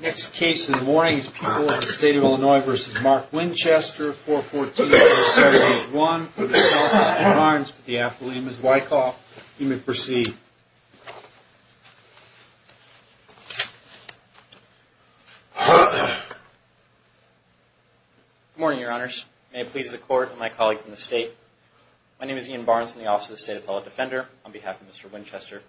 Next case in the morning is People of the State of Illinois v. Mark Winchester, 414-0781, for the Office of the Court of Arms, for the afternoon. Ms. Wyckoff, you may proceed. Good morning, Your Honors. May it please the Court and my colleagues from the State. My name is Ian Barnes from the Office of the State Appellate Defender, on behalf of Mr. Winchester.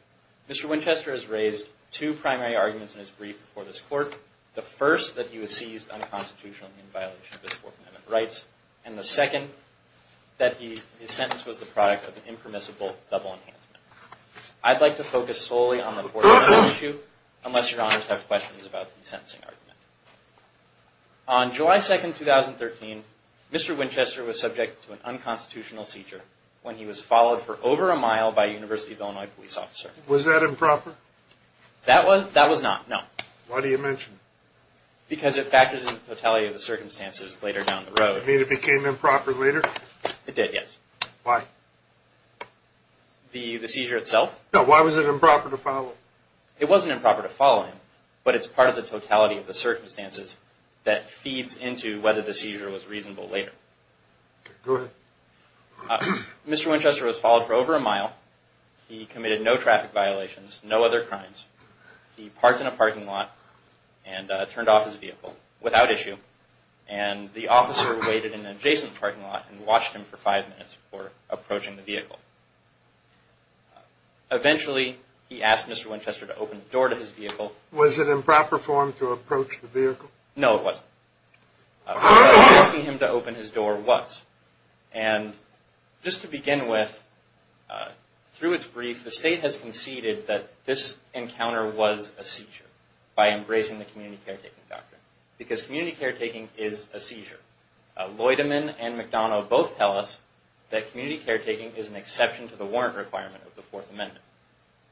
Mr. Winchester has raised two primary arguments in his brief before this Court. The first, that he was seized unconstitutionally in violation of his Fourth Amendment rights, and the second, that his sentence was the product of an impermissible double enhancement. I'd like to focus solely on the Fourth Amendment issue, unless Your Honors have questions about the sentencing argument. On July 2, 2013, Mr. Winchester was subject to an unconstitutional seizure, when he was followed for over a mile by a University of Illinois police officer. Was that improper? That was not, no. Why do you mention it? Because it factors in the totality of the circumstances later down the road. You mean it became improper later? It did, yes. Why? The seizure itself? No, why was it improper to follow? It wasn't improper to follow him, but it's part of the totality of the circumstances that feeds into whether the seizure was reasonable later. Okay, go ahead. Mr. Winchester was followed for over a mile. He committed no traffic violations, no other crimes. He parked in a parking lot and turned off his vehicle without issue. And the officer waited in an adjacent parking lot and watched him for five minutes before approaching the vehicle. Eventually, he asked Mr. Winchester to open the door to his vehicle. Was it improper for him to approach the vehicle? No, it wasn't. Asking him to open his door was. And just to begin with, through its brief, the state has conceded that this encounter was a seizure by embracing the community caretaking doctrine. Because community caretaking is a seizure. Lloydeman and McDonough both tell us that community caretaking is an exception to the warrant requirement of the Fourth Amendment.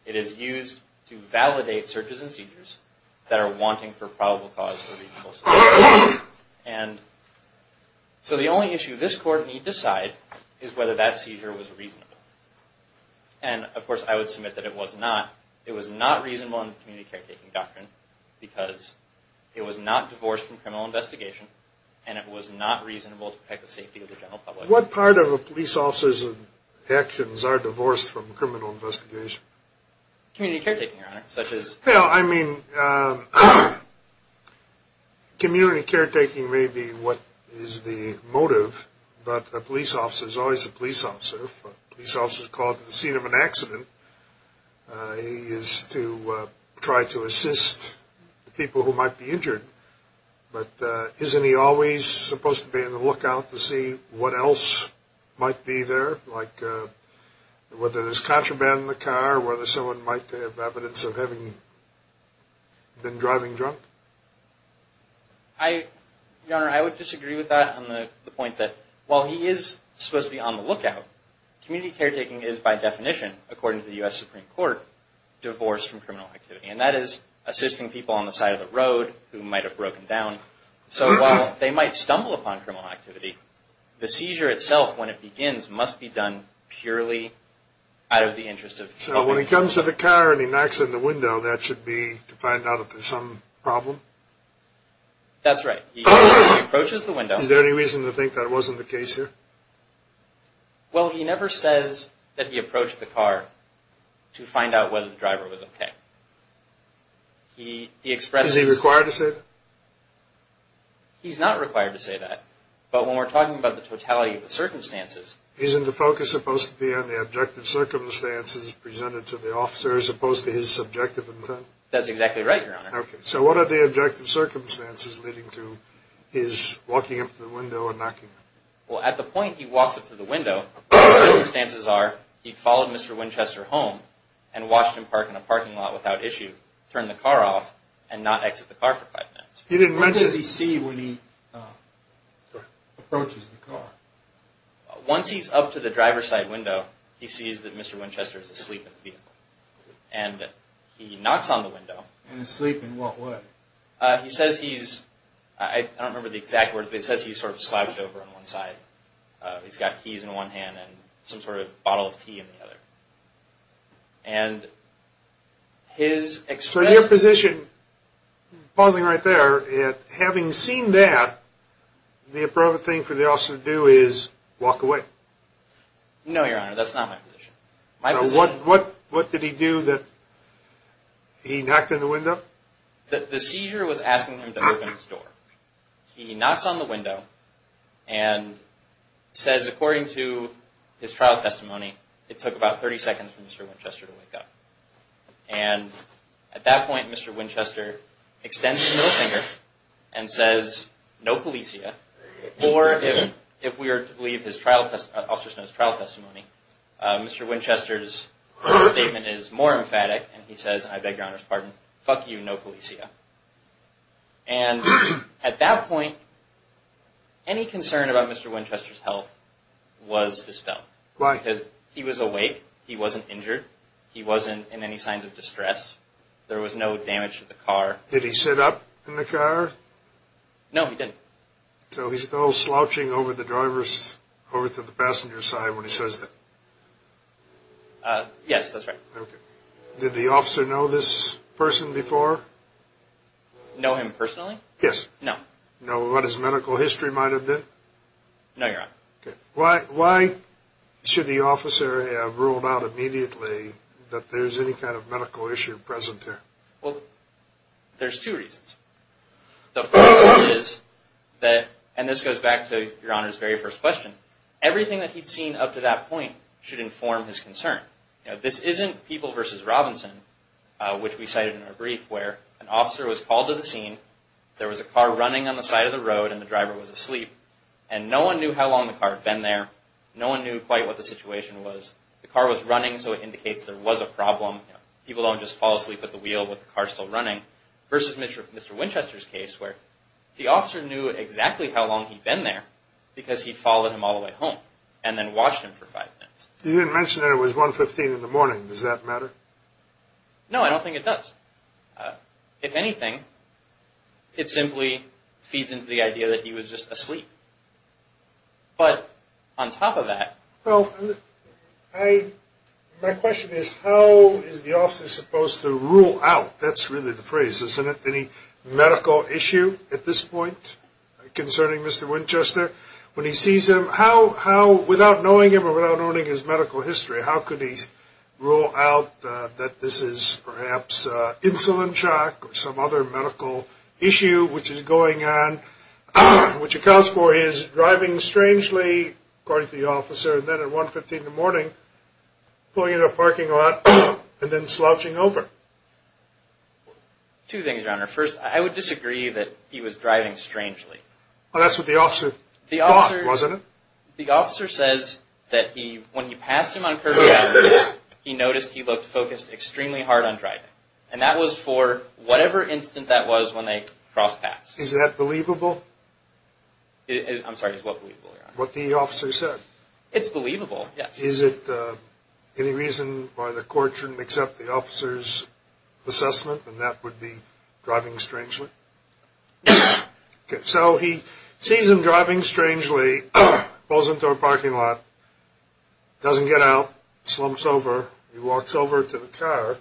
It is used to validate searches and seizures that are wanting for probable cause or reasonable solution. And so the only issue this Court need decide is whether that seizure was reasonable. And, of course, I would submit that it was not. It was not reasonable in the community caretaking doctrine because it was not divorced from criminal investigation. And it was not reasonable to protect the safety of the general public. What part of a police officer's actions are divorced from criminal investigation? Community caretaking, Your Honor, such as. Well, I mean, community caretaking may be what is the motive, but a police officer is always a police officer. A police officer is called to the scene of an accident. He is to try to assist people who might be injured. But isn't he always supposed to be on the lookout to see what else might be there, like whether there's contraband in the car, whether someone might have evidence of having been driving drunk? Your Honor, I would disagree with that on the point that while he is supposed to be on the lookout, community caretaking is by definition, according to the U.S. Supreme Court, divorced from criminal activity. And that is assisting people on the side of the road who might have broken down. So while they might stumble upon criminal activity, the seizure itself, when it begins, must be done purely out of the interest of. So when he comes to the car and he knocks on the window, that should be to find out if there's some problem? That's right. He approaches the window. Is there any reason to think that wasn't the case here? Well, he never says that he approached the car to find out whether the driver was okay. He expresses. Is he required to say that? He's not required to say that. But when we're talking about the totality of the circumstances. Isn't the focus supposed to be on the objective circumstances presented to the officer as opposed to his subjective intent? That's exactly right, Your Honor. Okay. So what are the objective circumstances leading to his walking up to the window and knocking? Well, at the point he walks up to the window, circumstances are he followed Mr. Winchester home and watched him park in a parking lot without issue, turn the car off, and not exit the car for five minutes. He didn't mention. What does he see when he approaches the car? Once he's up to the driver's side window, he sees that Mr. Winchester is asleep in the vehicle. And he knocks on the window. Asleep in what way? He says he's, I don't remember the exact words, but he says he's sort of slouched over on one side. He's got keys in one hand and some sort of bottle of tea in the other. And his expression. So your position, pausing right there, having seen that, the appropriate thing for the officer to do is walk away. No, Your Honor. That's not my position. So what did he do that he knocked on the window? The seizure was asking him to open his door. He knocks on the window and says, according to his trial testimony, it took about 30 seconds for Mr. Winchester to wake up. And at that point, Mr. Winchester extends his middle finger and says, no, Felicia. Or if we were to believe Officer Snow's trial testimony, Mr. Winchester's statement is more emphatic. And he says, I beg Your Honor's pardon, fuck you, no, Felicia. And at that point, any concern about Mr. Winchester's health was dispelled. Why? Because he was awake. He wasn't injured. He wasn't in any signs of distress. There was no damage to the car. Did he sit up in the car? No, he didn't. So he's still slouching over the driver's, over to the passenger's side when he says that? Yes, that's right. Okay. Did the officer know this person before? Know him personally? Yes. No. Know what his medical history might have been? No, Your Honor. Okay. Why should the officer have ruled out immediately that there's any kind of medical issue present there? Well, there's two reasons. The first is that, and this goes back to Your Honor's very first question, everything that he'd seen up to that point should inform his concern. This isn't People v. Robinson, which we cited in our brief, where an officer was called to the scene, there was a car running on the side of the road, and the driver was asleep, and no one knew how long the car had been there. No one knew quite what the situation was. The car was running, so it indicates there was a problem. People don't just fall asleep at the wheel with the car still running, versus Mr. Winchester's case where the officer knew exactly how long he'd been there because he'd followed him all the way home and then watched him for five minutes. You didn't mention that it was 1.15 in the morning. Does that matter? No, I don't think it does. If anything, it simply feeds into the idea that he was just asleep. But on top of that. Well, my question is how is the officer supposed to rule out, that's really the phrase, isn't it, any medical issue at this point concerning Mr. Winchester? When he sees him, how, without knowing him or without knowing his medical history, how could he rule out that this is perhaps insulin shock or some other medical issue which is going on, which accounts for his driving strangely, according to the officer, and then at 1.15 in the morning pulling into a parking lot and then slouching over? Two things, Your Honor. First, I would disagree that he was driving strangely. Well, that's what the officer thought, wasn't it? The officer says that when he passed him on Kirby Avenue, he noticed he looked focused extremely hard on driving, and that was for whatever instant that was when they crossed paths. Is that believable? I'm sorry, is what believable, Your Honor? What the officer said. It's believable, yes. Is it any reason why the court shouldn't accept the officer's assessment and that would be driving strangely? Okay, so he sees him driving strangely, pulls into a parking lot, doesn't get out, slumps over. He walks over to the car.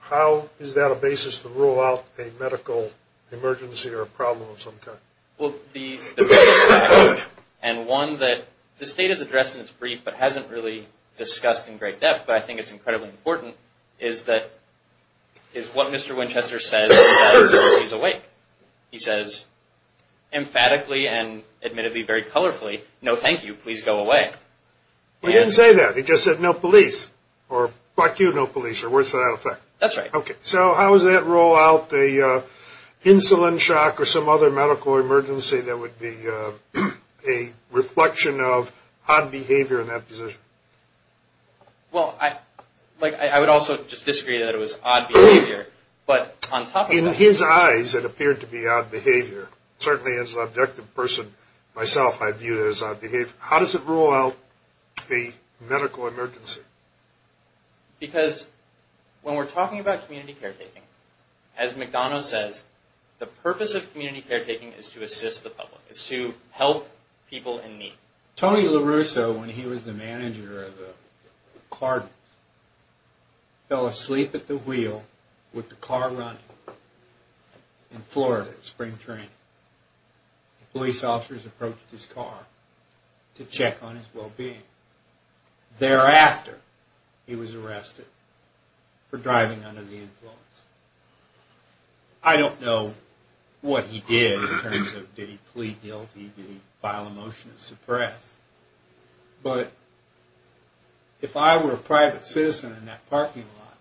How is that a basis to rule out a medical emergency or a problem of some kind? Well, the first fact, and one that the State has addressed in its brief but hasn't really discussed in great depth, but I think it's incredibly important, is what Mr. Winchester says when he's awake. He says emphatically and admittedly very colorfully, no thank you, please go away. He didn't say that. He just said no police, or fuck you, no police, or words without effect. That's right. Okay, so how does that rule out the insulin shock or some other medical emergency that would be a reflection of odd behavior in that position? Well, I would also just disagree that it was odd behavior, but on top of that... In his eyes, it appeared to be odd behavior. Certainly as an objective person myself, I view it as odd behavior. How does it rule out a medical emergency? Because when we're talking about community caretaking, as McDonough says, the purpose of community caretaking is to assist the public, is to help people in need. Tony LaRusso, when he was the manager of the Cardinals, fell asleep at the wheel with the car running in Florida at spring training. Police officers approached his car to check on his well-being. Thereafter, he was arrested for driving under the influence. I don't know what he did in terms of did he plead guilty, did he file a motion to suppress, but if I were a private citizen in that parking lot,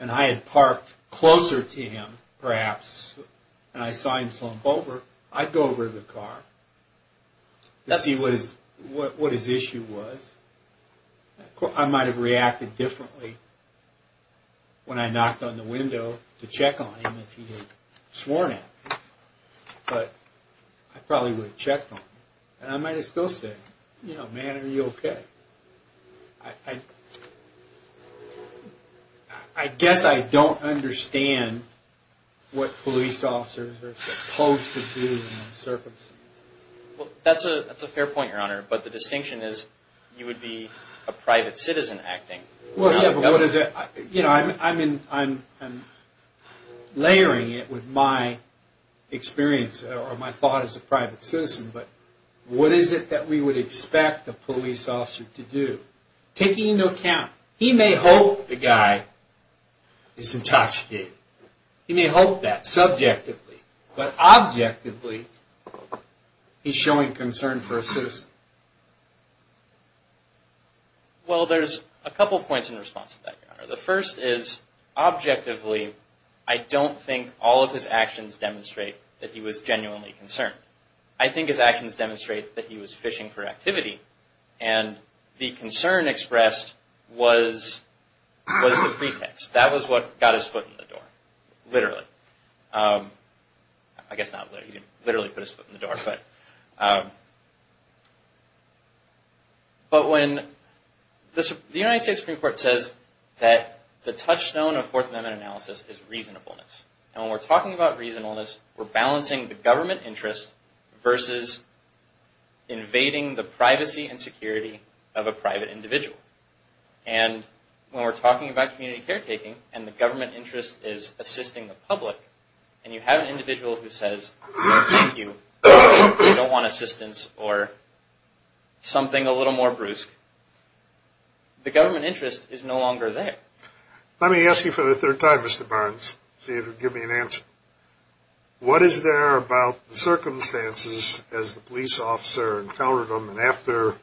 and I had parked closer to him, perhaps, and I saw him slump over, I'd go over to the car to see what his issue was. I might have reacted differently when I knocked on the window to check on him if he had sworn in. But I probably would have checked on him. And I might have still said, you know, man, are you okay? I guess I don't understand what police officers are supposed to do in those circumstances. Well, that's a fair point, Your Honor, but the distinction is you would be a private citizen acting. Well, yeah, but what is it? You know, I'm layering it with my experience or my thought as a private citizen, but what is it that we would expect a police officer to do? Taking into account, he may hope the guy is intoxicated. He may hope that subjectively, but objectively, he's showing concern for a citizen. Well, there's a couple points in response to that, Your Honor. The first is, objectively, I don't think all of his actions demonstrate that he was genuinely concerned. I think his actions demonstrate that he was fishing for activity, and the concern expressed was the pretext. That was what got his foot in the door, literally. I guess not literally, he didn't literally put his foot in the door. But when the United States Supreme Court says that the touchstone of Fourth Amendment analysis is reasonableness, and when we're talking about reasonableness, we're balancing the government interest versus invading the privacy and security of a private individual. And when we're talking about community caretaking, and the government interest is assisting the public, and you have an individual who says, thank you, but they don't want assistance, or something a little more brusque, the government interest is no longer there. Let me ask you for the third time, Mr. Barnes, see if you can give me an answer. What is there about the circumstances as the police officer encountered them, after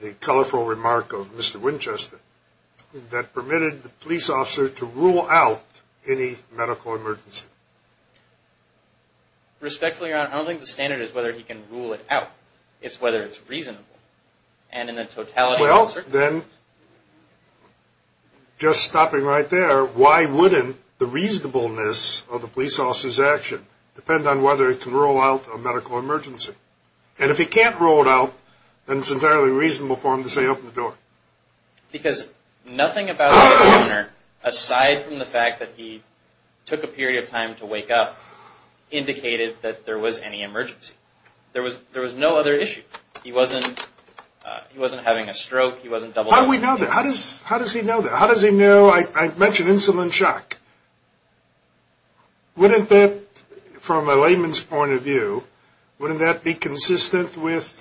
the colorful remark of Mr. Winchester, that permitted the police officer to rule out any medical emergency? Respectfully, Your Honor, I don't think the standard is whether he can rule it out. It's whether it's reasonable. Well, then, just stopping right there, why wouldn't the reasonableness of the police officer's action depend on whether it can rule out a medical emergency? And if he can't rule it out, then it's entirely reasonable for him to say, open the door. Because nothing about the encounter, aside from the fact that he took a period of time to wake up, indicated that there was any emergency. There was no other issue. He wasn't having a stroke. How does he know that? How does he know? I mentioned insulin shock. Wouldn't that, from a layman's point of view, wouldn't that be consistent with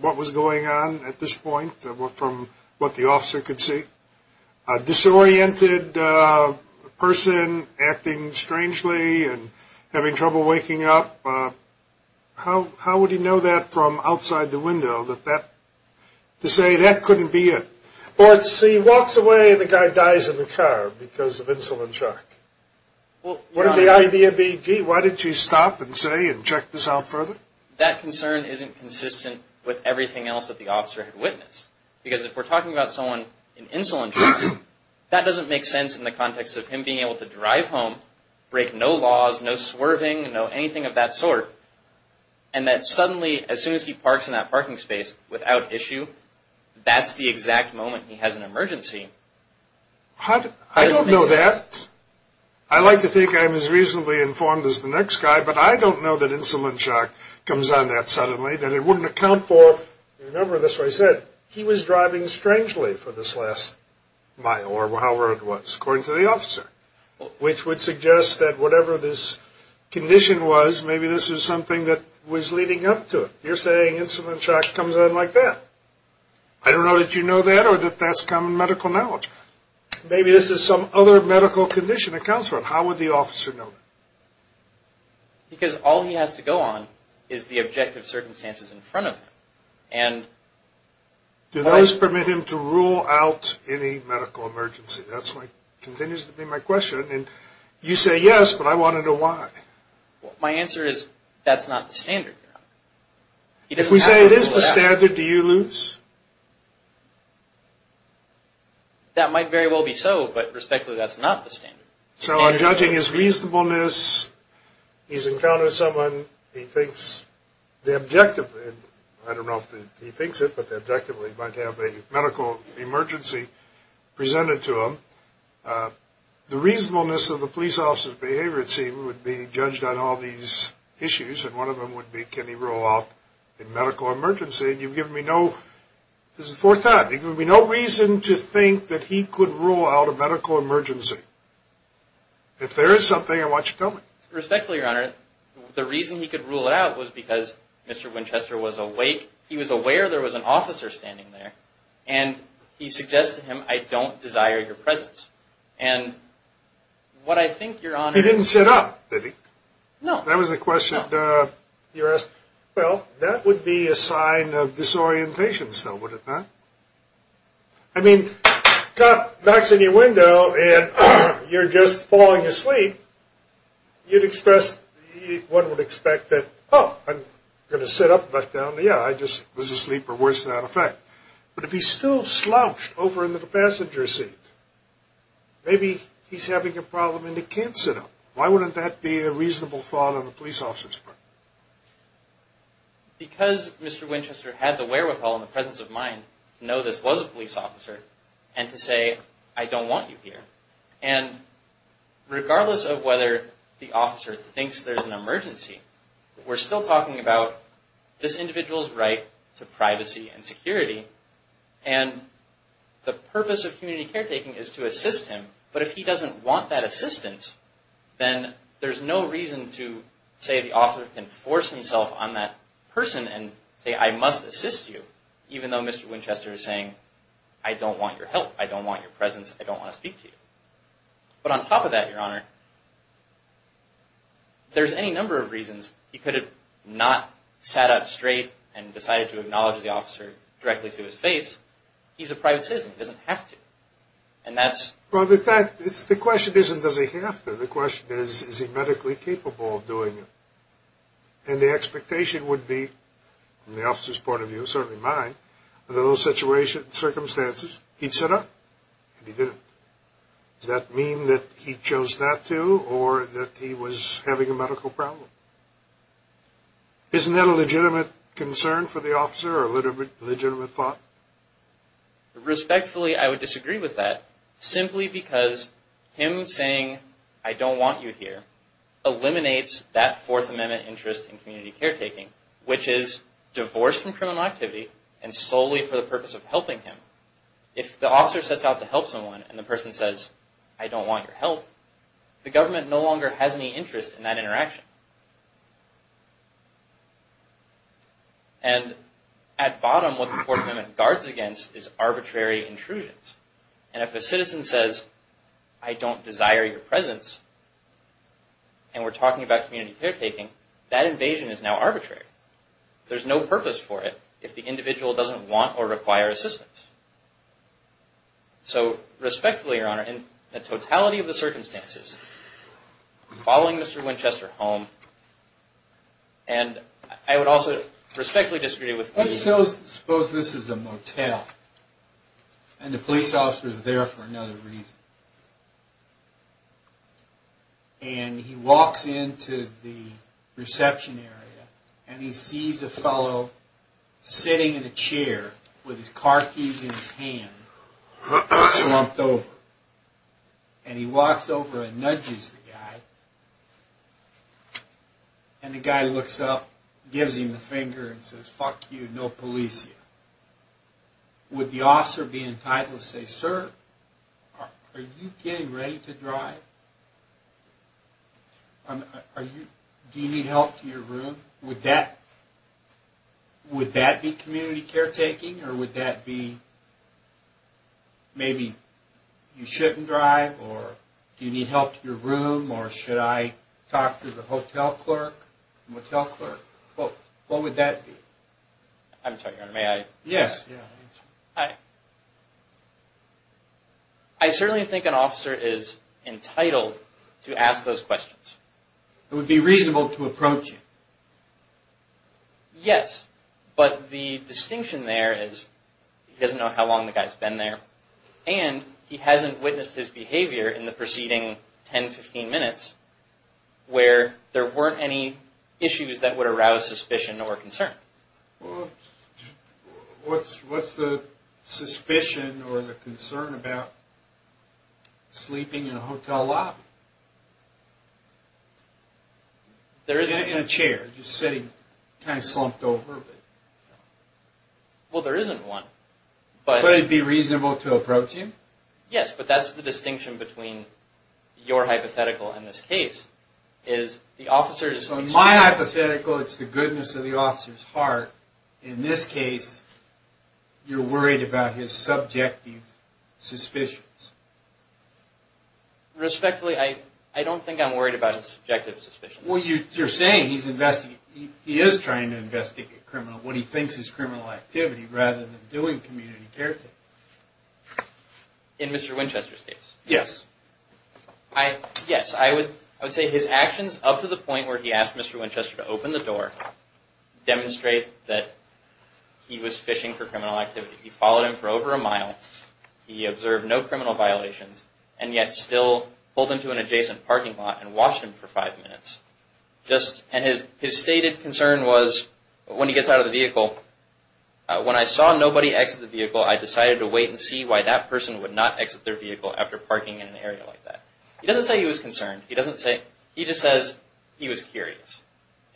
what was going on at this point, from what the officer could see? A disoriented person acting strangely and having trouble waking up, how would he know that from outside the window, to say that couldn't be it? But, see, he walks away and the guy dies in the car because of insulin shock. Wouldn't the idea be, gee, why didn't you stop and say and check this out further? That concern isn't consistent with everything else that the officer had witnessed. Because if we're talking about someone in insulin shock, that doesn't make sense in the context of him being able to drive home, break no laws, no swerving, no anything of that sort, and that suddenly, as soon as he parks in that parking space without issue, that's the exact moment he has an emergency. I don't know that. I like to think I'm as reasonably informed as the next guy, but I don't know that insulin shock comes on that suddenly, that it wouldn't account for, remember this is what I said, he was driving strangely for this last mile or however it was, according to the officer, which would suggest that whatever this condition was, maybe this was something that was leading up to it. You're saying insulin shock comes on like that. I don't know that you know that or that that's common medical knowledge. Maybe this is some other medical condition that counts for it. How would the officer know? Because all he has to go on is the objective circumstances in front of him. Do those permit him to rule out any medical emergency? That continues to be my question. You say yes, but I want to know why. My answer is that's not the standard. If we say it is the standard, do you lose? That might very well be so, but respectfully that's not the standard. So I'm judging his reasonableness. He's encountered someone. He thinks the objective, I don't know if he thinks it, but the objective he might have a medical emergency presented to him. The reasonableness of the police officer's behavior, it seems, would be judged on all these issues, and one of them would be can he rule out a medical emergency, and you've given me no reason to think that he could rule out a medical emergency. If there is something, I want you to tell me. Respectfully, Your Honor, the reason he could rule it out was because Mr. Winchester was awake. He was aware there was an officer standing there, and he suggested to him, I don't desire your presence. And what I think, Your Honor— He didn't sit up, did he? No. That was the question you asked. Well, that would be a sign of disorientation still, would it not? I mean, cop knocks on your window, and you're just falling asleep. You'd express what one would expect that, oh, I'm going to sit up and back down. Yeah, I just was asleep or worse to that effect. But if he's still slouched over into the passenger seat, maybe he's having a problem and he can't sit up. Why wouldn't that be a reasonable thought on the police officer's part? Because Mr. Winchester had the wherewithal and the presence of mind to know this was a police officer and to say, I don't want you here. And regardless of whether the officer thinks there's an emergency, we're still talking about this individual's right to privacy and security, and the purpose of community caretaking is to assist him. But if he doesn't want that assistance, then there's no reason to say the officer can force himself on that person and say, I must assist you, even though Mr. Winchester is saying, I don't want your help, I don't want your presence, I don't want to speak to you. But on top of that, Your Honor, there's any number of reasons. He could have not sat up straight and decided to acknowledge the officer directly to his face. He's a private citizen. He doesn't have to. Well, the question isn't does he have to. The question is, is he medically capable of doing it? And the expectation would be, from the officer's point of view, certainly mine, under those circumstances, he'd sit up and he did it. Does that mean that he chose not to or that he was having a medical problem? Isn't that a legitimate concern for the officer or a legitimate thought? Respectfully, I would disagree with that, simply because him saying, I don't want you here, eliminates that Fourth Amendment interest in community caretaking, which is divorced from criminal activity and solely for the purpose of helping him. If the officer sets out to help someone and the person says, I don't want your help, the government no longer has any interest in that interaction. And at bottom, what the Fourth Amendment guards against is arbitrary intrusions. And if a citizen says, I don't desire your presence, and we're talking about community caretaking, that invasion is now arbitrary. There's no purpose for it if the individual doesn't want or require assistance. So respectfully, Your Honor, in the totality of the circumstances, following Mr. Winchester home, and I would also respectfully disagree with you. Suppose this is a motel, and the police officer is there for another reason. And he walks into the reception area, and he sees a fellow sitting in a chair with his car keys in his hand, slumped over. And he walks over and nudges the guy. And the guy looks up, gives him the finger, and says, fuck you, no police here. Would the officer be entitled to say, sir, are you getting ready to drive? Do you need help to your room? Would that be community caretaking, or would that be maybe you shouldn't drive, or do you need help to your room, or should I talk to the motel clerk? What would that be? I certainly think an officer is entitled to ask those questions. It would be reasonable to approach him. Yes, but the distinction there is he doesn't know how long the guy's been there, and he hasn't witnessed his behavior in the preceding 10, 15 minutes where there weren't any issues that would arouse suspicion or concern. What's the suspicion or the concern about sleeping in a hotel lobby? In a chair, just sitting kind of slumped over. Well, there isn't one. Would it be reasonable to approach him? Yes, but that's the distinction between your hypothetical and this case. So in my hypothetical, it's the goodness of the officer's heart. In this case, you're worried about his subjective suspicions. Respectfully, I don't think I'm worried about his subjective suspicions. Well, you're saying he is trying to investigate what he thinks is criminal activity rather than doing community caretaking. In Mr. Winchester's case? Yes. I would say his actions up to the point where he asked Mr. Winchester to open the door demonstrate that he was fishing for criminal activity. He followed him for over a mile, he observed no criminal violations, and yet still pulled into an adjacent parking lot and watched him for five minutes. His stated concern was when he gets out of the vehicle, when I saw nobody exit the vehicle, I decided to wait and see why that person would not exit their vehicle after parking in an area like that. He doesn't say he was concerned. He just says he was curious.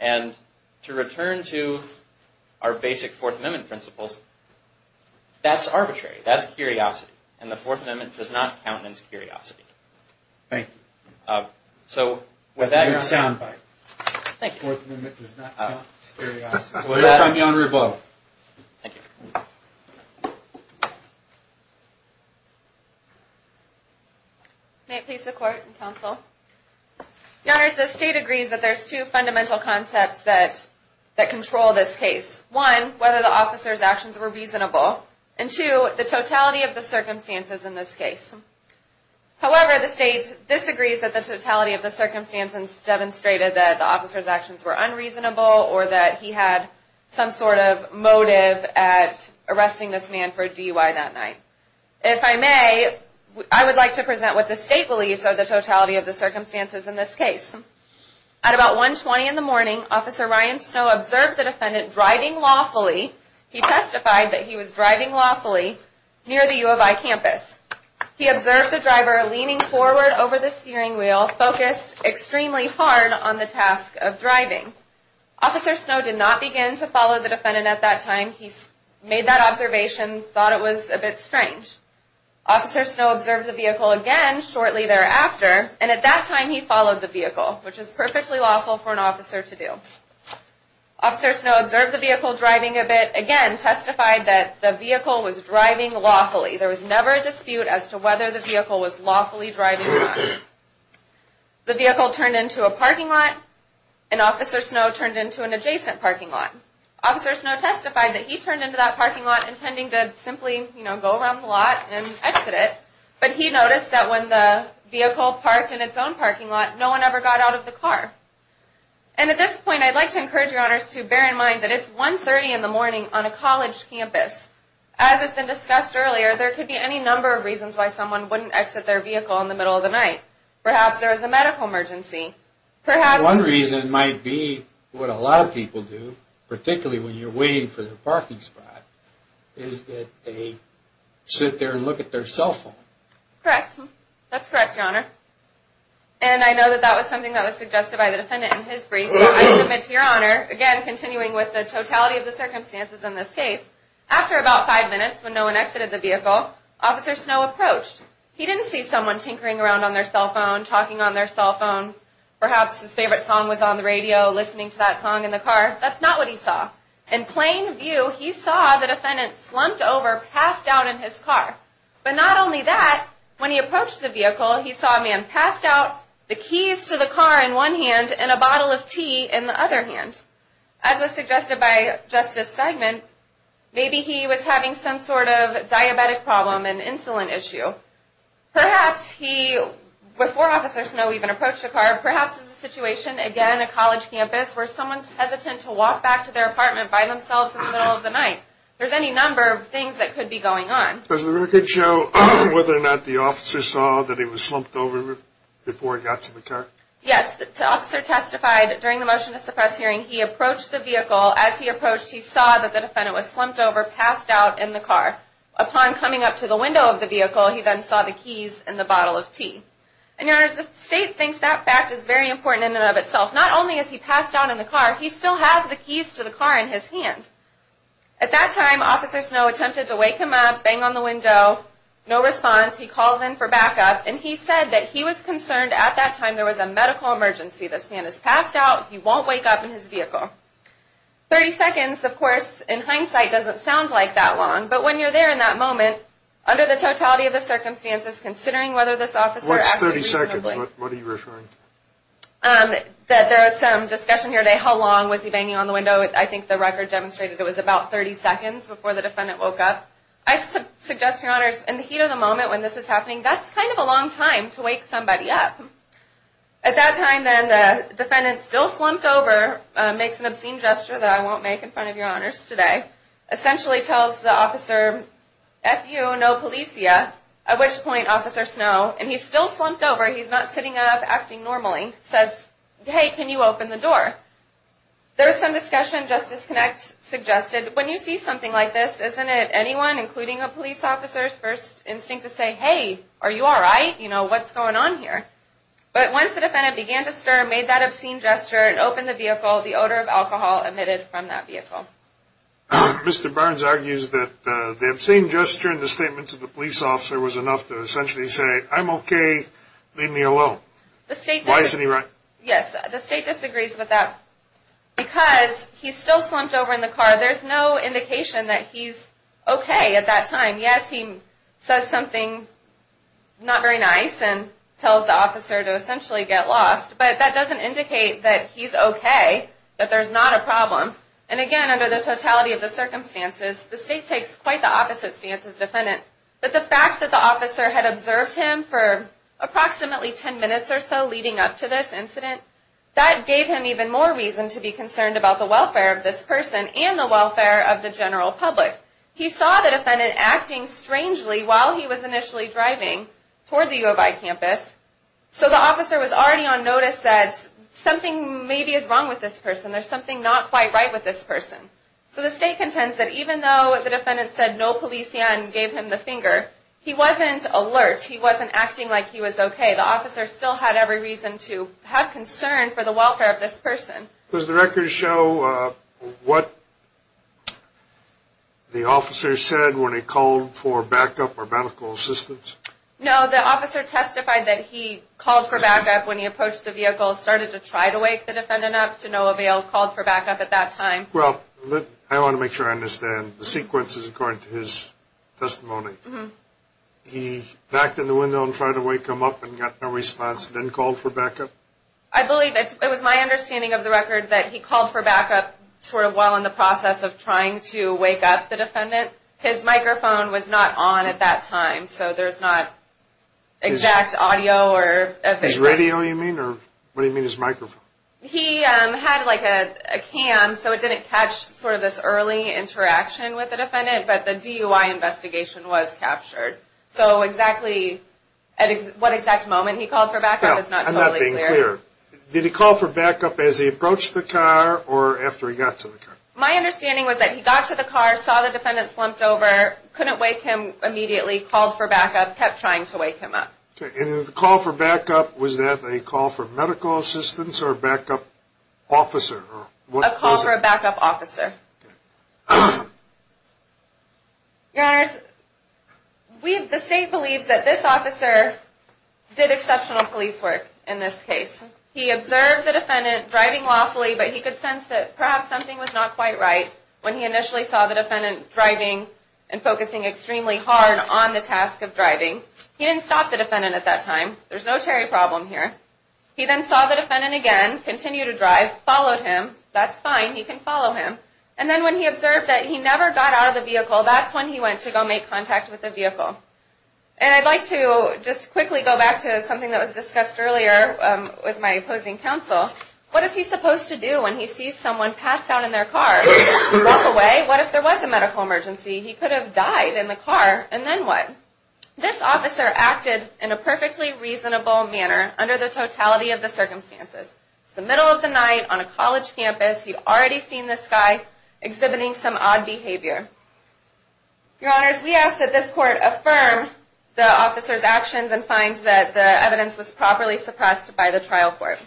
And to return to our basic Fourth Amendment principles, that's arbitrary. That's curiosity, and the Fourth Amendment does not count as curiosity. Thank you. Fourth Amendment does not count as curiosity. Thank you. May it please the Court and Counsel? Your Honors, the State agrees that there are two fundamental concepts that control this case. One, whether the officer's actions were reasonable, and two, the totality of the circumstances in this case. However, the State disagrees that the totality of the circumstances demonstrated that the officer's actions were unreasonable or that he had some sort of motive at arresting this man for DUI that night. If I may, I would like to present what the State believes are the totality of the circumstances in this case. At about 1.20 in the morning, Officer Ryan Snow observed the defendant driving lawfully. He testified that he was driving lawfully near the U of I campus. He observed the driver leaning forward over the steering wheel, focused extremely hard on the task of driving. Officer Snow did not begin to follow the defendant at that time. He made that observation, thought it was a bit strange. Officer Snow observed the vehicle again shortly thereafter, and at that time he followed the vehicle, which is perfectly lawful for an officer to do. Officer Snow observed the vehicle driving a bit, again testified that the vehicle was driving lawfully. There was never a dispute as to whether the vehicle was lawfully driving or not. The vehicle turned into a parking lot, and Officer Snow turned into an adjacent parking lot. Officer Snow testified that he turned into that parking lot intending to simply go around the lot and exit it, but he noticed that when the vehicle parked in its own parking lot, no one ever got out of the car. And at this point, I'd like to encourage your honors to bear in mind that it's 1.30 in the morning on a college campus. As has been discussed earlier, there could be any number of reasons why someone wouldn't exit their vehicle in the middle of the night. Perhaps there was a medical emergency. One reason might be what a lot of people do, particularly when you're waiting for the parking spot, is that they sit there and look at their cell phone. Correct. That's correct, your honor. And I know that that was something that was suggested by the defendant in his brief. I submit to your honor, again continuing with the totality of the circumstances in this case, after about five minutes when no one exited the vehicle, Officer Snow approached. He didn't see someone tinkering around on their cell phone, talking on their cell phone. Perhaps his favorite song was on the radio, listening to that song in the car. That's not what he saw. In plain view, he saw the defendant slumped over, passed out in his car. But not only that, when he approached the vehicle, he saw a man passed out, the keys to the car in one hand and a bottle of tea in the other hand. As was suggested by Justice Steigman, maybe he was having some sort of diabetic problem, an insulin issue. Perhaps he, before Officer Snow even approached the car, perhaps it was a situation, again a college campus, where someone's hesitant to walk back to their apartment by themselves in the middle of the night. There's any number of things that could be going on. Does the record show whether or not the officer saw that he was slumped over before he got to the car? Yes, the officer testified that during the motion to suppress hearing, he approached the vehicle. As he approached, he saw that the defendant was slumped over, passed out in the car. Upon coming up to the window of the vehicle, he then saw the keys and the bottle of tea. And your honors, the state thinks that fact is very important in and of itself. Not only is he passed out in the car, he still has the keys to the car in his hand. At that time, Officer Snow attempted to wake him up, bang on the window, no response. He calls in for backup. And he said that he was concerned at that time there was a medical emergency. This man is passed out. He won't wake up in his vehicle. Thirty seconds, of course, in hindsight, doesn't sound like that long. But when you're there in that moment, under the totality of the circumstances, considering whether this officer acted reasonably. What's 30 seconds? What are you referring to? There is some discussion here today how long was he banging on the window. I think the record demonstrated it was about 30 seconds before the defendant woke up. I suggest, your honors, in the heat of the moment when this is happening, that's kind of a long time to wake somebody up. At that time, then, the defendant, still slumped over, makes an obscene gesture that I won't make in front of your honors today, essentially tells the officer, F-you, no policia. At which point, Officer Snow, and he's still slumped over, he's not sitting up acting normally, says, hey, can you open the door? There is some discussion, Justice Connect suggested, when you see something like this, isn't it anyone, including a police officer's first instinct to say, hey, are you all right? You know, what's going on here? But once the defendant began to stir, made that obscene gesture, and opened the vehicle, the odor of alcohol emitted from that vehicle. Mr. Burns argues that the obscene gesture in the statement to the police officer was enough to essentially say, I'm okay, leave me alone. Why isn't he right? Yes, the state disagrees with that. Because he's still slumped over in the car, there's no indication that he's okay at that time. Yes, he says something not very nice, and tells the officer to essentially get lost. But that doesn't indicate that he's okay, that there's not a problem. And again, under the totality of the circumstances, the state takes quite the opposite stance as defendant. But the fact that the officer had observed him for approximately ten minutes or so leading up to this incident, that gave him even more reason to be concerned about the welfare of this person and the welfare of the general public. He saw the defendant acting strangely while he was initially driving toward the U of I campus. So the officer was already on notice that something maybe is wrong with this person, there's something not quite right with this person. So the state contends that even though the defendant said no policia and gave him the finger, he wasn't alert, he wasn't acting like he was okay. The officer still had every reason to have concern for the welfare of this person. Does the record show what the officer said when he called for backup or medical assistance? No, the officer testified that he called for backup when he approached the vehicle, started to try to wake the defendant up, to no avail, called for backup at that time. Well, I want to make sure I understand. The sequence is according to his testimony. He backed in the window and tried to wake him up and got no response, then called for backup? I believe it was my understanding of the record that he called for backup sort of while in the process of trying to wake up the defendant. His microphone was not on at that time, so there's not exact audio. His radio, you mean, or what do you mean his microphone? He had like a cam, so it didn't catch sort of this early interaction with the defendant, but the DUI investigation was captured. So exactly at what exact moment he called for backup is not totally clear. I'm not being clear. Did he call for backup as he approached the car or after he got to the car? My understanding was that he got to the car, saw the defendant slumped over, couldn't wake him immediately, called for backup, kept trying to wake him up. And the call for backup, was that a call for medical assistance or a backup officer? A call for a backup officer. Your Honors, the state believes that this officer did exceptional police work in this case. He observed the defendant driving lawfully, but he could sense that perhaps something was not quite right when he initially saw the defendant driving and focusing extremely hard on the task of driving. He didn't stop the defendant at that time. There's no Terry problem here. He then saw the defendant again, continued to drive, followed him. That's fine. He can follow him. And then when he observed that he never got out of the vehicle, that's when he went to go make contact with the vehicle. And I'd like to just quickly go back to something that was discussed earlier with my opposing counsel. What is he supposed to do when he sees someone passed out in their car? Walk away? What if there was a medical emergency? He could have died in the car, and then what? Your Honors, this officer acted in a perfectly reasonable manner under the totality of the circumstances. It's the middle of the night on a college campus. You've already seen this guy exhibiting some odd behavior. Your Honors, we ask that this court affirm the officer's actions and find that the evidence was properly suppressed by the trial court.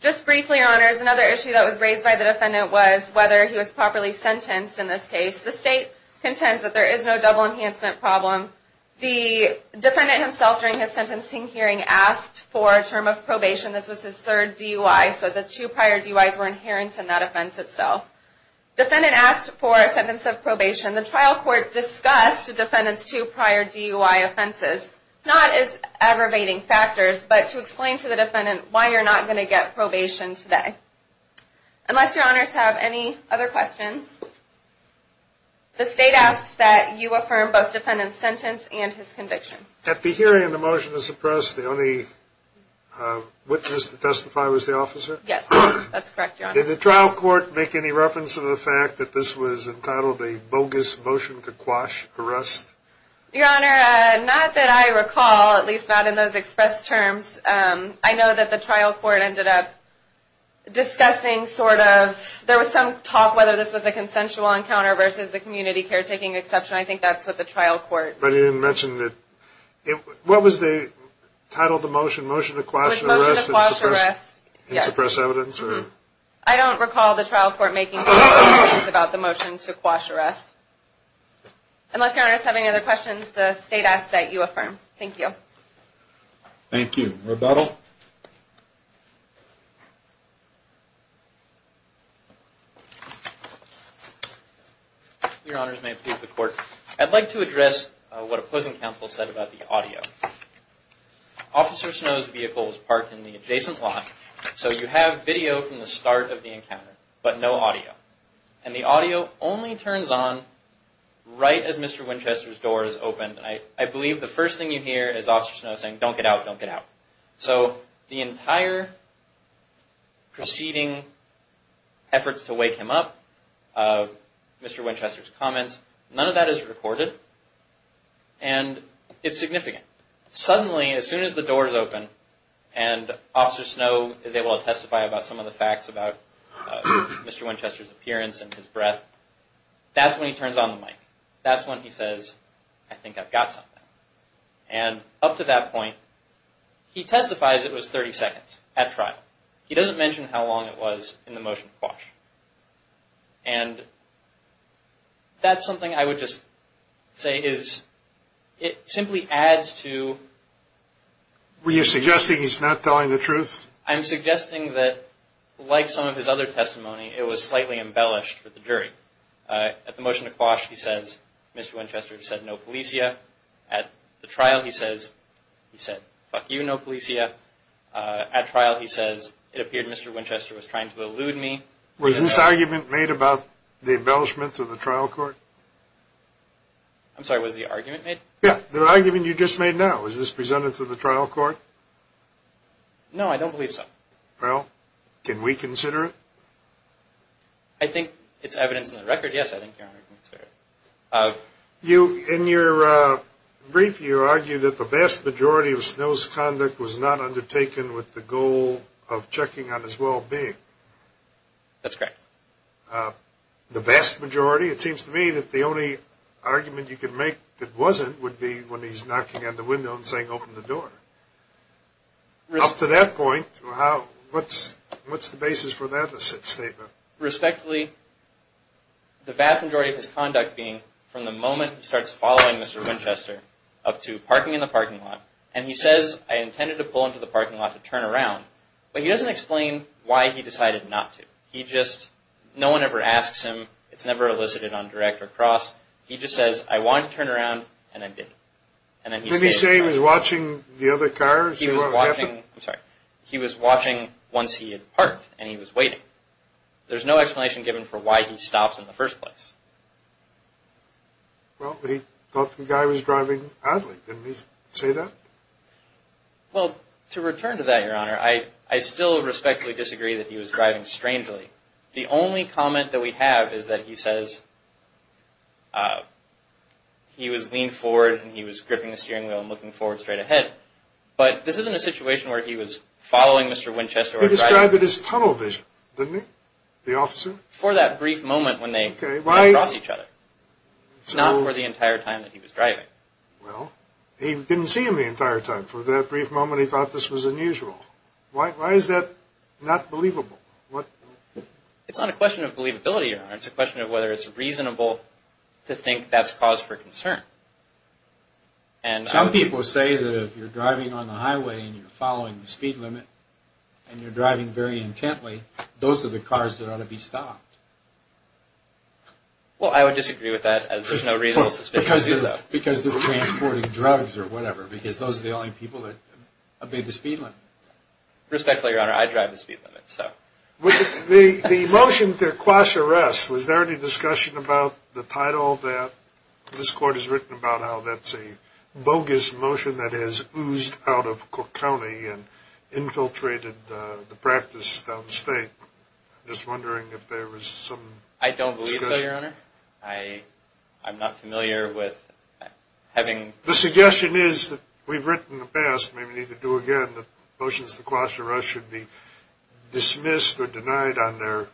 Just briefly, Your Honors, another issue that was raised by the defendant was whether he was properly sentenced in this case. The state contends that there is no double enhancement problem. The defendant himself during his sentencing hearing asked for a term of probation. This was his third DUI, so the two prior DUIs were inherent in that offense itself. The defendant asked for a sentence of probation. The trial court discussed the defendant's two prior DUI offenses. Not as aggravating factors, but to explain to the defendant why you're not going to get probation today. Unless Your Honors have any other questions, the state asks that you affirm both defendant's sentence and his conviction. At the hearing and the motion to suppress, the only witness to testify was the officer? Yes, that's correct, Your Honor. Did the trial court make any reference to the fact that this was entitled a bogus motion to quash arrest? Your Honor, not that I recall, at least not in those expressed terms. I know that the trial court ended up discussing sort of, there was some talk whether this was a consensual encounter versus the community caretaking exception. I think that's what the trial court. But it didn't mention that, what was the title of the motion? Motion to Quash Arrest and Suppress Evidence? I don't recall the trial court making any reference about the motion to quash arrest. Unless Your Honors have any other questions, the state asks that you affirm. Thank you. Thank you. Rebuttal? Your Honors, may it please the Court. I'd like to address what opposing counsel said about the audio. Officer Snow's vehicle was parked in the adjacent lot, so you have video from the start of the encounter, but no audio. And the audio only turns on right as Mr. Winchester's door is opened. I believe the first thing you hear is Officer Snow saying, don't get out, don't get out. So the entire preceding efforts to wake him up, Mr. Winchester's comments, none of that is recorded. And it's significant. Suddenly, as soon as the door is open, and Officer Snow is able to testify about some of the facts about Mr. Winchester's appearance and his breath, that's when he turns on the mic. That's when he says, I think I've got something. And up to that point, he testifies it was 30 seconds at trial. He doesn't mention how long it was in the motion to quash. And that's something I would just say is, it simply adds to... Were you suggesting he's not telling the truth? I'm suggesting that, like some of his other testimony, it was slightly embellished with the jury. At the motion to quash, he says, Mr. Winchester said no policia. At the trial, he says, he said, fuck you, no policia. At trial, he says, it appeared Mr. Winchester was trying to elude me. Was this argument made about the embellishment to the trial court? I'm sorry, was the argument made? Yeah, the argument you just made now. Was this presented to the trial court? No, I don't believe so. Well, can we consider it? I think it's evidence in the record. Yes, I think your argument is fair. In your brief, you argue that the vast majority of Snow's conduct was not undertaken with the goal of checking on his well-being. That's correct. The vast majority? It seems to me that the only argument you could make that wasn't would be when he's knocking on the window and saying, open the door. Up to that point, what's the basis for that statement? Respectfully, the vast majority of his conduct being from the moment he starts following Mr. Winchester up to parking in the parking lot, and he says, I intended to pull into the parking lot to turn around, but he doesn't explain why he decided not to. He just, no one ever asks him. It's never elicited on direct or cross. He just says, I wanted to turn around, and I did. Did he say he was watching the other cars? He was watching once he had parked, and he was waiting. There's no explanation given for why he stops in the first place. Well, he thought the guy was driving oddly. Didn't he say that? Well, to return to that, Your Honor, I still respectfully disagree that he was driving strangely. The only comment that we have is that he says he was leaned forward, and he was gripping the steering wheel and looking forward straight ahead. But this isn't a situation where he was following Mr. Winchester or driving. He described it as tunnel vision, didn't he, the officer? For that brief moment when they came across each other, not for the entire time that he was driving. Well, he didn't see him the entire time. For that brief moment, he thought this was unusual. Why is that not believable? It's not a question of believability, Your Honor. It's a question of whether it's reasonable to think that's cause for concern. Some people say that if you're driving on the highway, and you're following the speed limit, and you're driving very intently, those are the cars that ought to be stopped. Well, I would disagree with that, as there's no reasonable suspicion of that. Because they're transporting drugs or whatever, because those are the only people that obey the speed limit. Respectfully, Your Honor, I drive the speed limit. The motion to quash arrest, was there any discussion about the title of that? This Court has written about how that's a bogus motion that has oozed out of Cook County and infiltrated the practice downstate. I'm just wondering if there was some discussion. I don't believe so, Your Honor. I'm not familiar with having… The suggestion is that we've written in the past, maybe we need to do it again, that motions to quash arrest should be dismissed or denied on their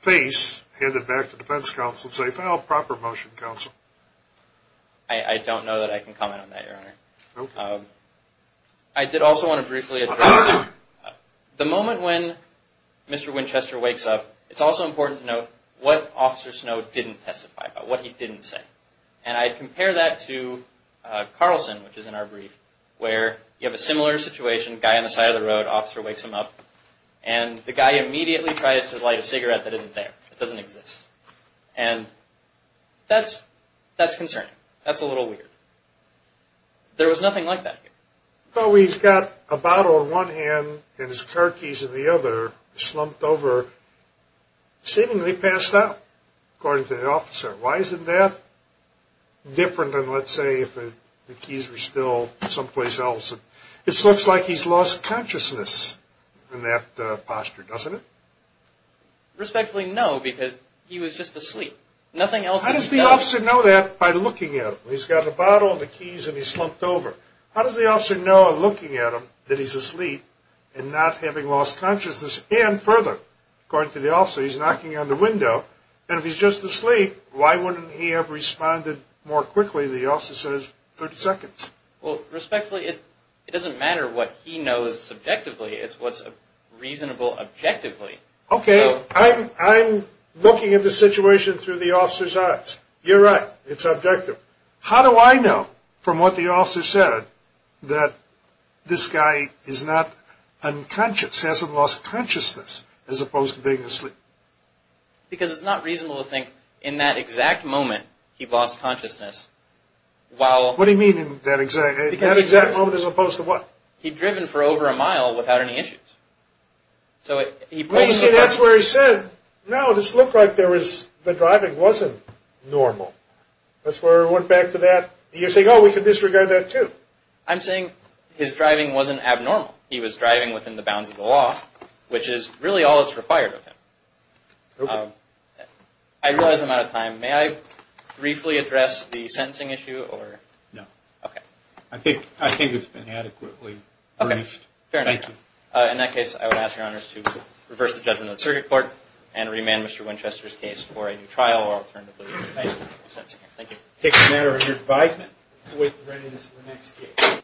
face, handed back to defense counsel, and say, well, proper motion, counsel. I don't know that I can comment on that, Your Honor. Okay. I did also want to briefly address, the moment when Mr. Winchester wakes up, it's also important to note what Officer Snow didn't testify about, what he didn't say. And I'd compare that to Carlson, which is in our brief, where you have a similar situation, guy on the side of the road, officer wakes him up, and the guy immediately tries to light a cigarette that isn't there, that doesn't exist. And that's concerning. That's a little weird. There was nothing like that here. Well, he's got a bottle in one hand and his car keys in the other, slumped over, seemingly passed out, according to the officer. Why isn't that different than, let's say, if the keys were still someplace else? It looks like he's lost consciousness in that posture, doesn't it? Respectfully, no, because he was just asleep. How does the officer know that by looking at him? He's got a bottle, the keys, and he's slumped over. How does the officer know, looking at him, that he's asleep and not having lost consciousness? And further, according to the officer, he's knocking on the window, and if he's just asleep, why wouldn't he have responded more quickly? The officer says, 30 seconds. Well, respectfully, it doesn't matter what he knows subjectively. It's what's reasonable objectively. Okay, I'm looking at the situation through the officer's eyes. You're right. It's objective. How do I know, from what the officer said, that this guy is not unconscious, hasn't lost consciousness, as opposed to being asleep? Because it's not reasonable to think, in that exact moment, he lost consciousness. What do you mean, in that exact moment, as opposed to what? He'd driven for over a mile without any issues. Well, you see, that's where he said, no, this looked like the driving wasn't normal. That's where I went back to that. You're saying, oh, we could disregard that, too. I'm saying his driving wasn't abnormal. He was driving within the bounds of the law, which is really all that's required of him. Okay. I realize I'm out of time. May I briefly address the sentencing issue? No. Okay. I think it's been adequately briefed. Okay, fair enough. Thank you. In that case, I would ask Your Honors to reverse the judgment of the circuit court and remand Mr. Winchester's case for a new trial, or alternatively, a sentencing hearing. Thank you. It takes a matter of your advisement. We'll wait for the readiness of the next case.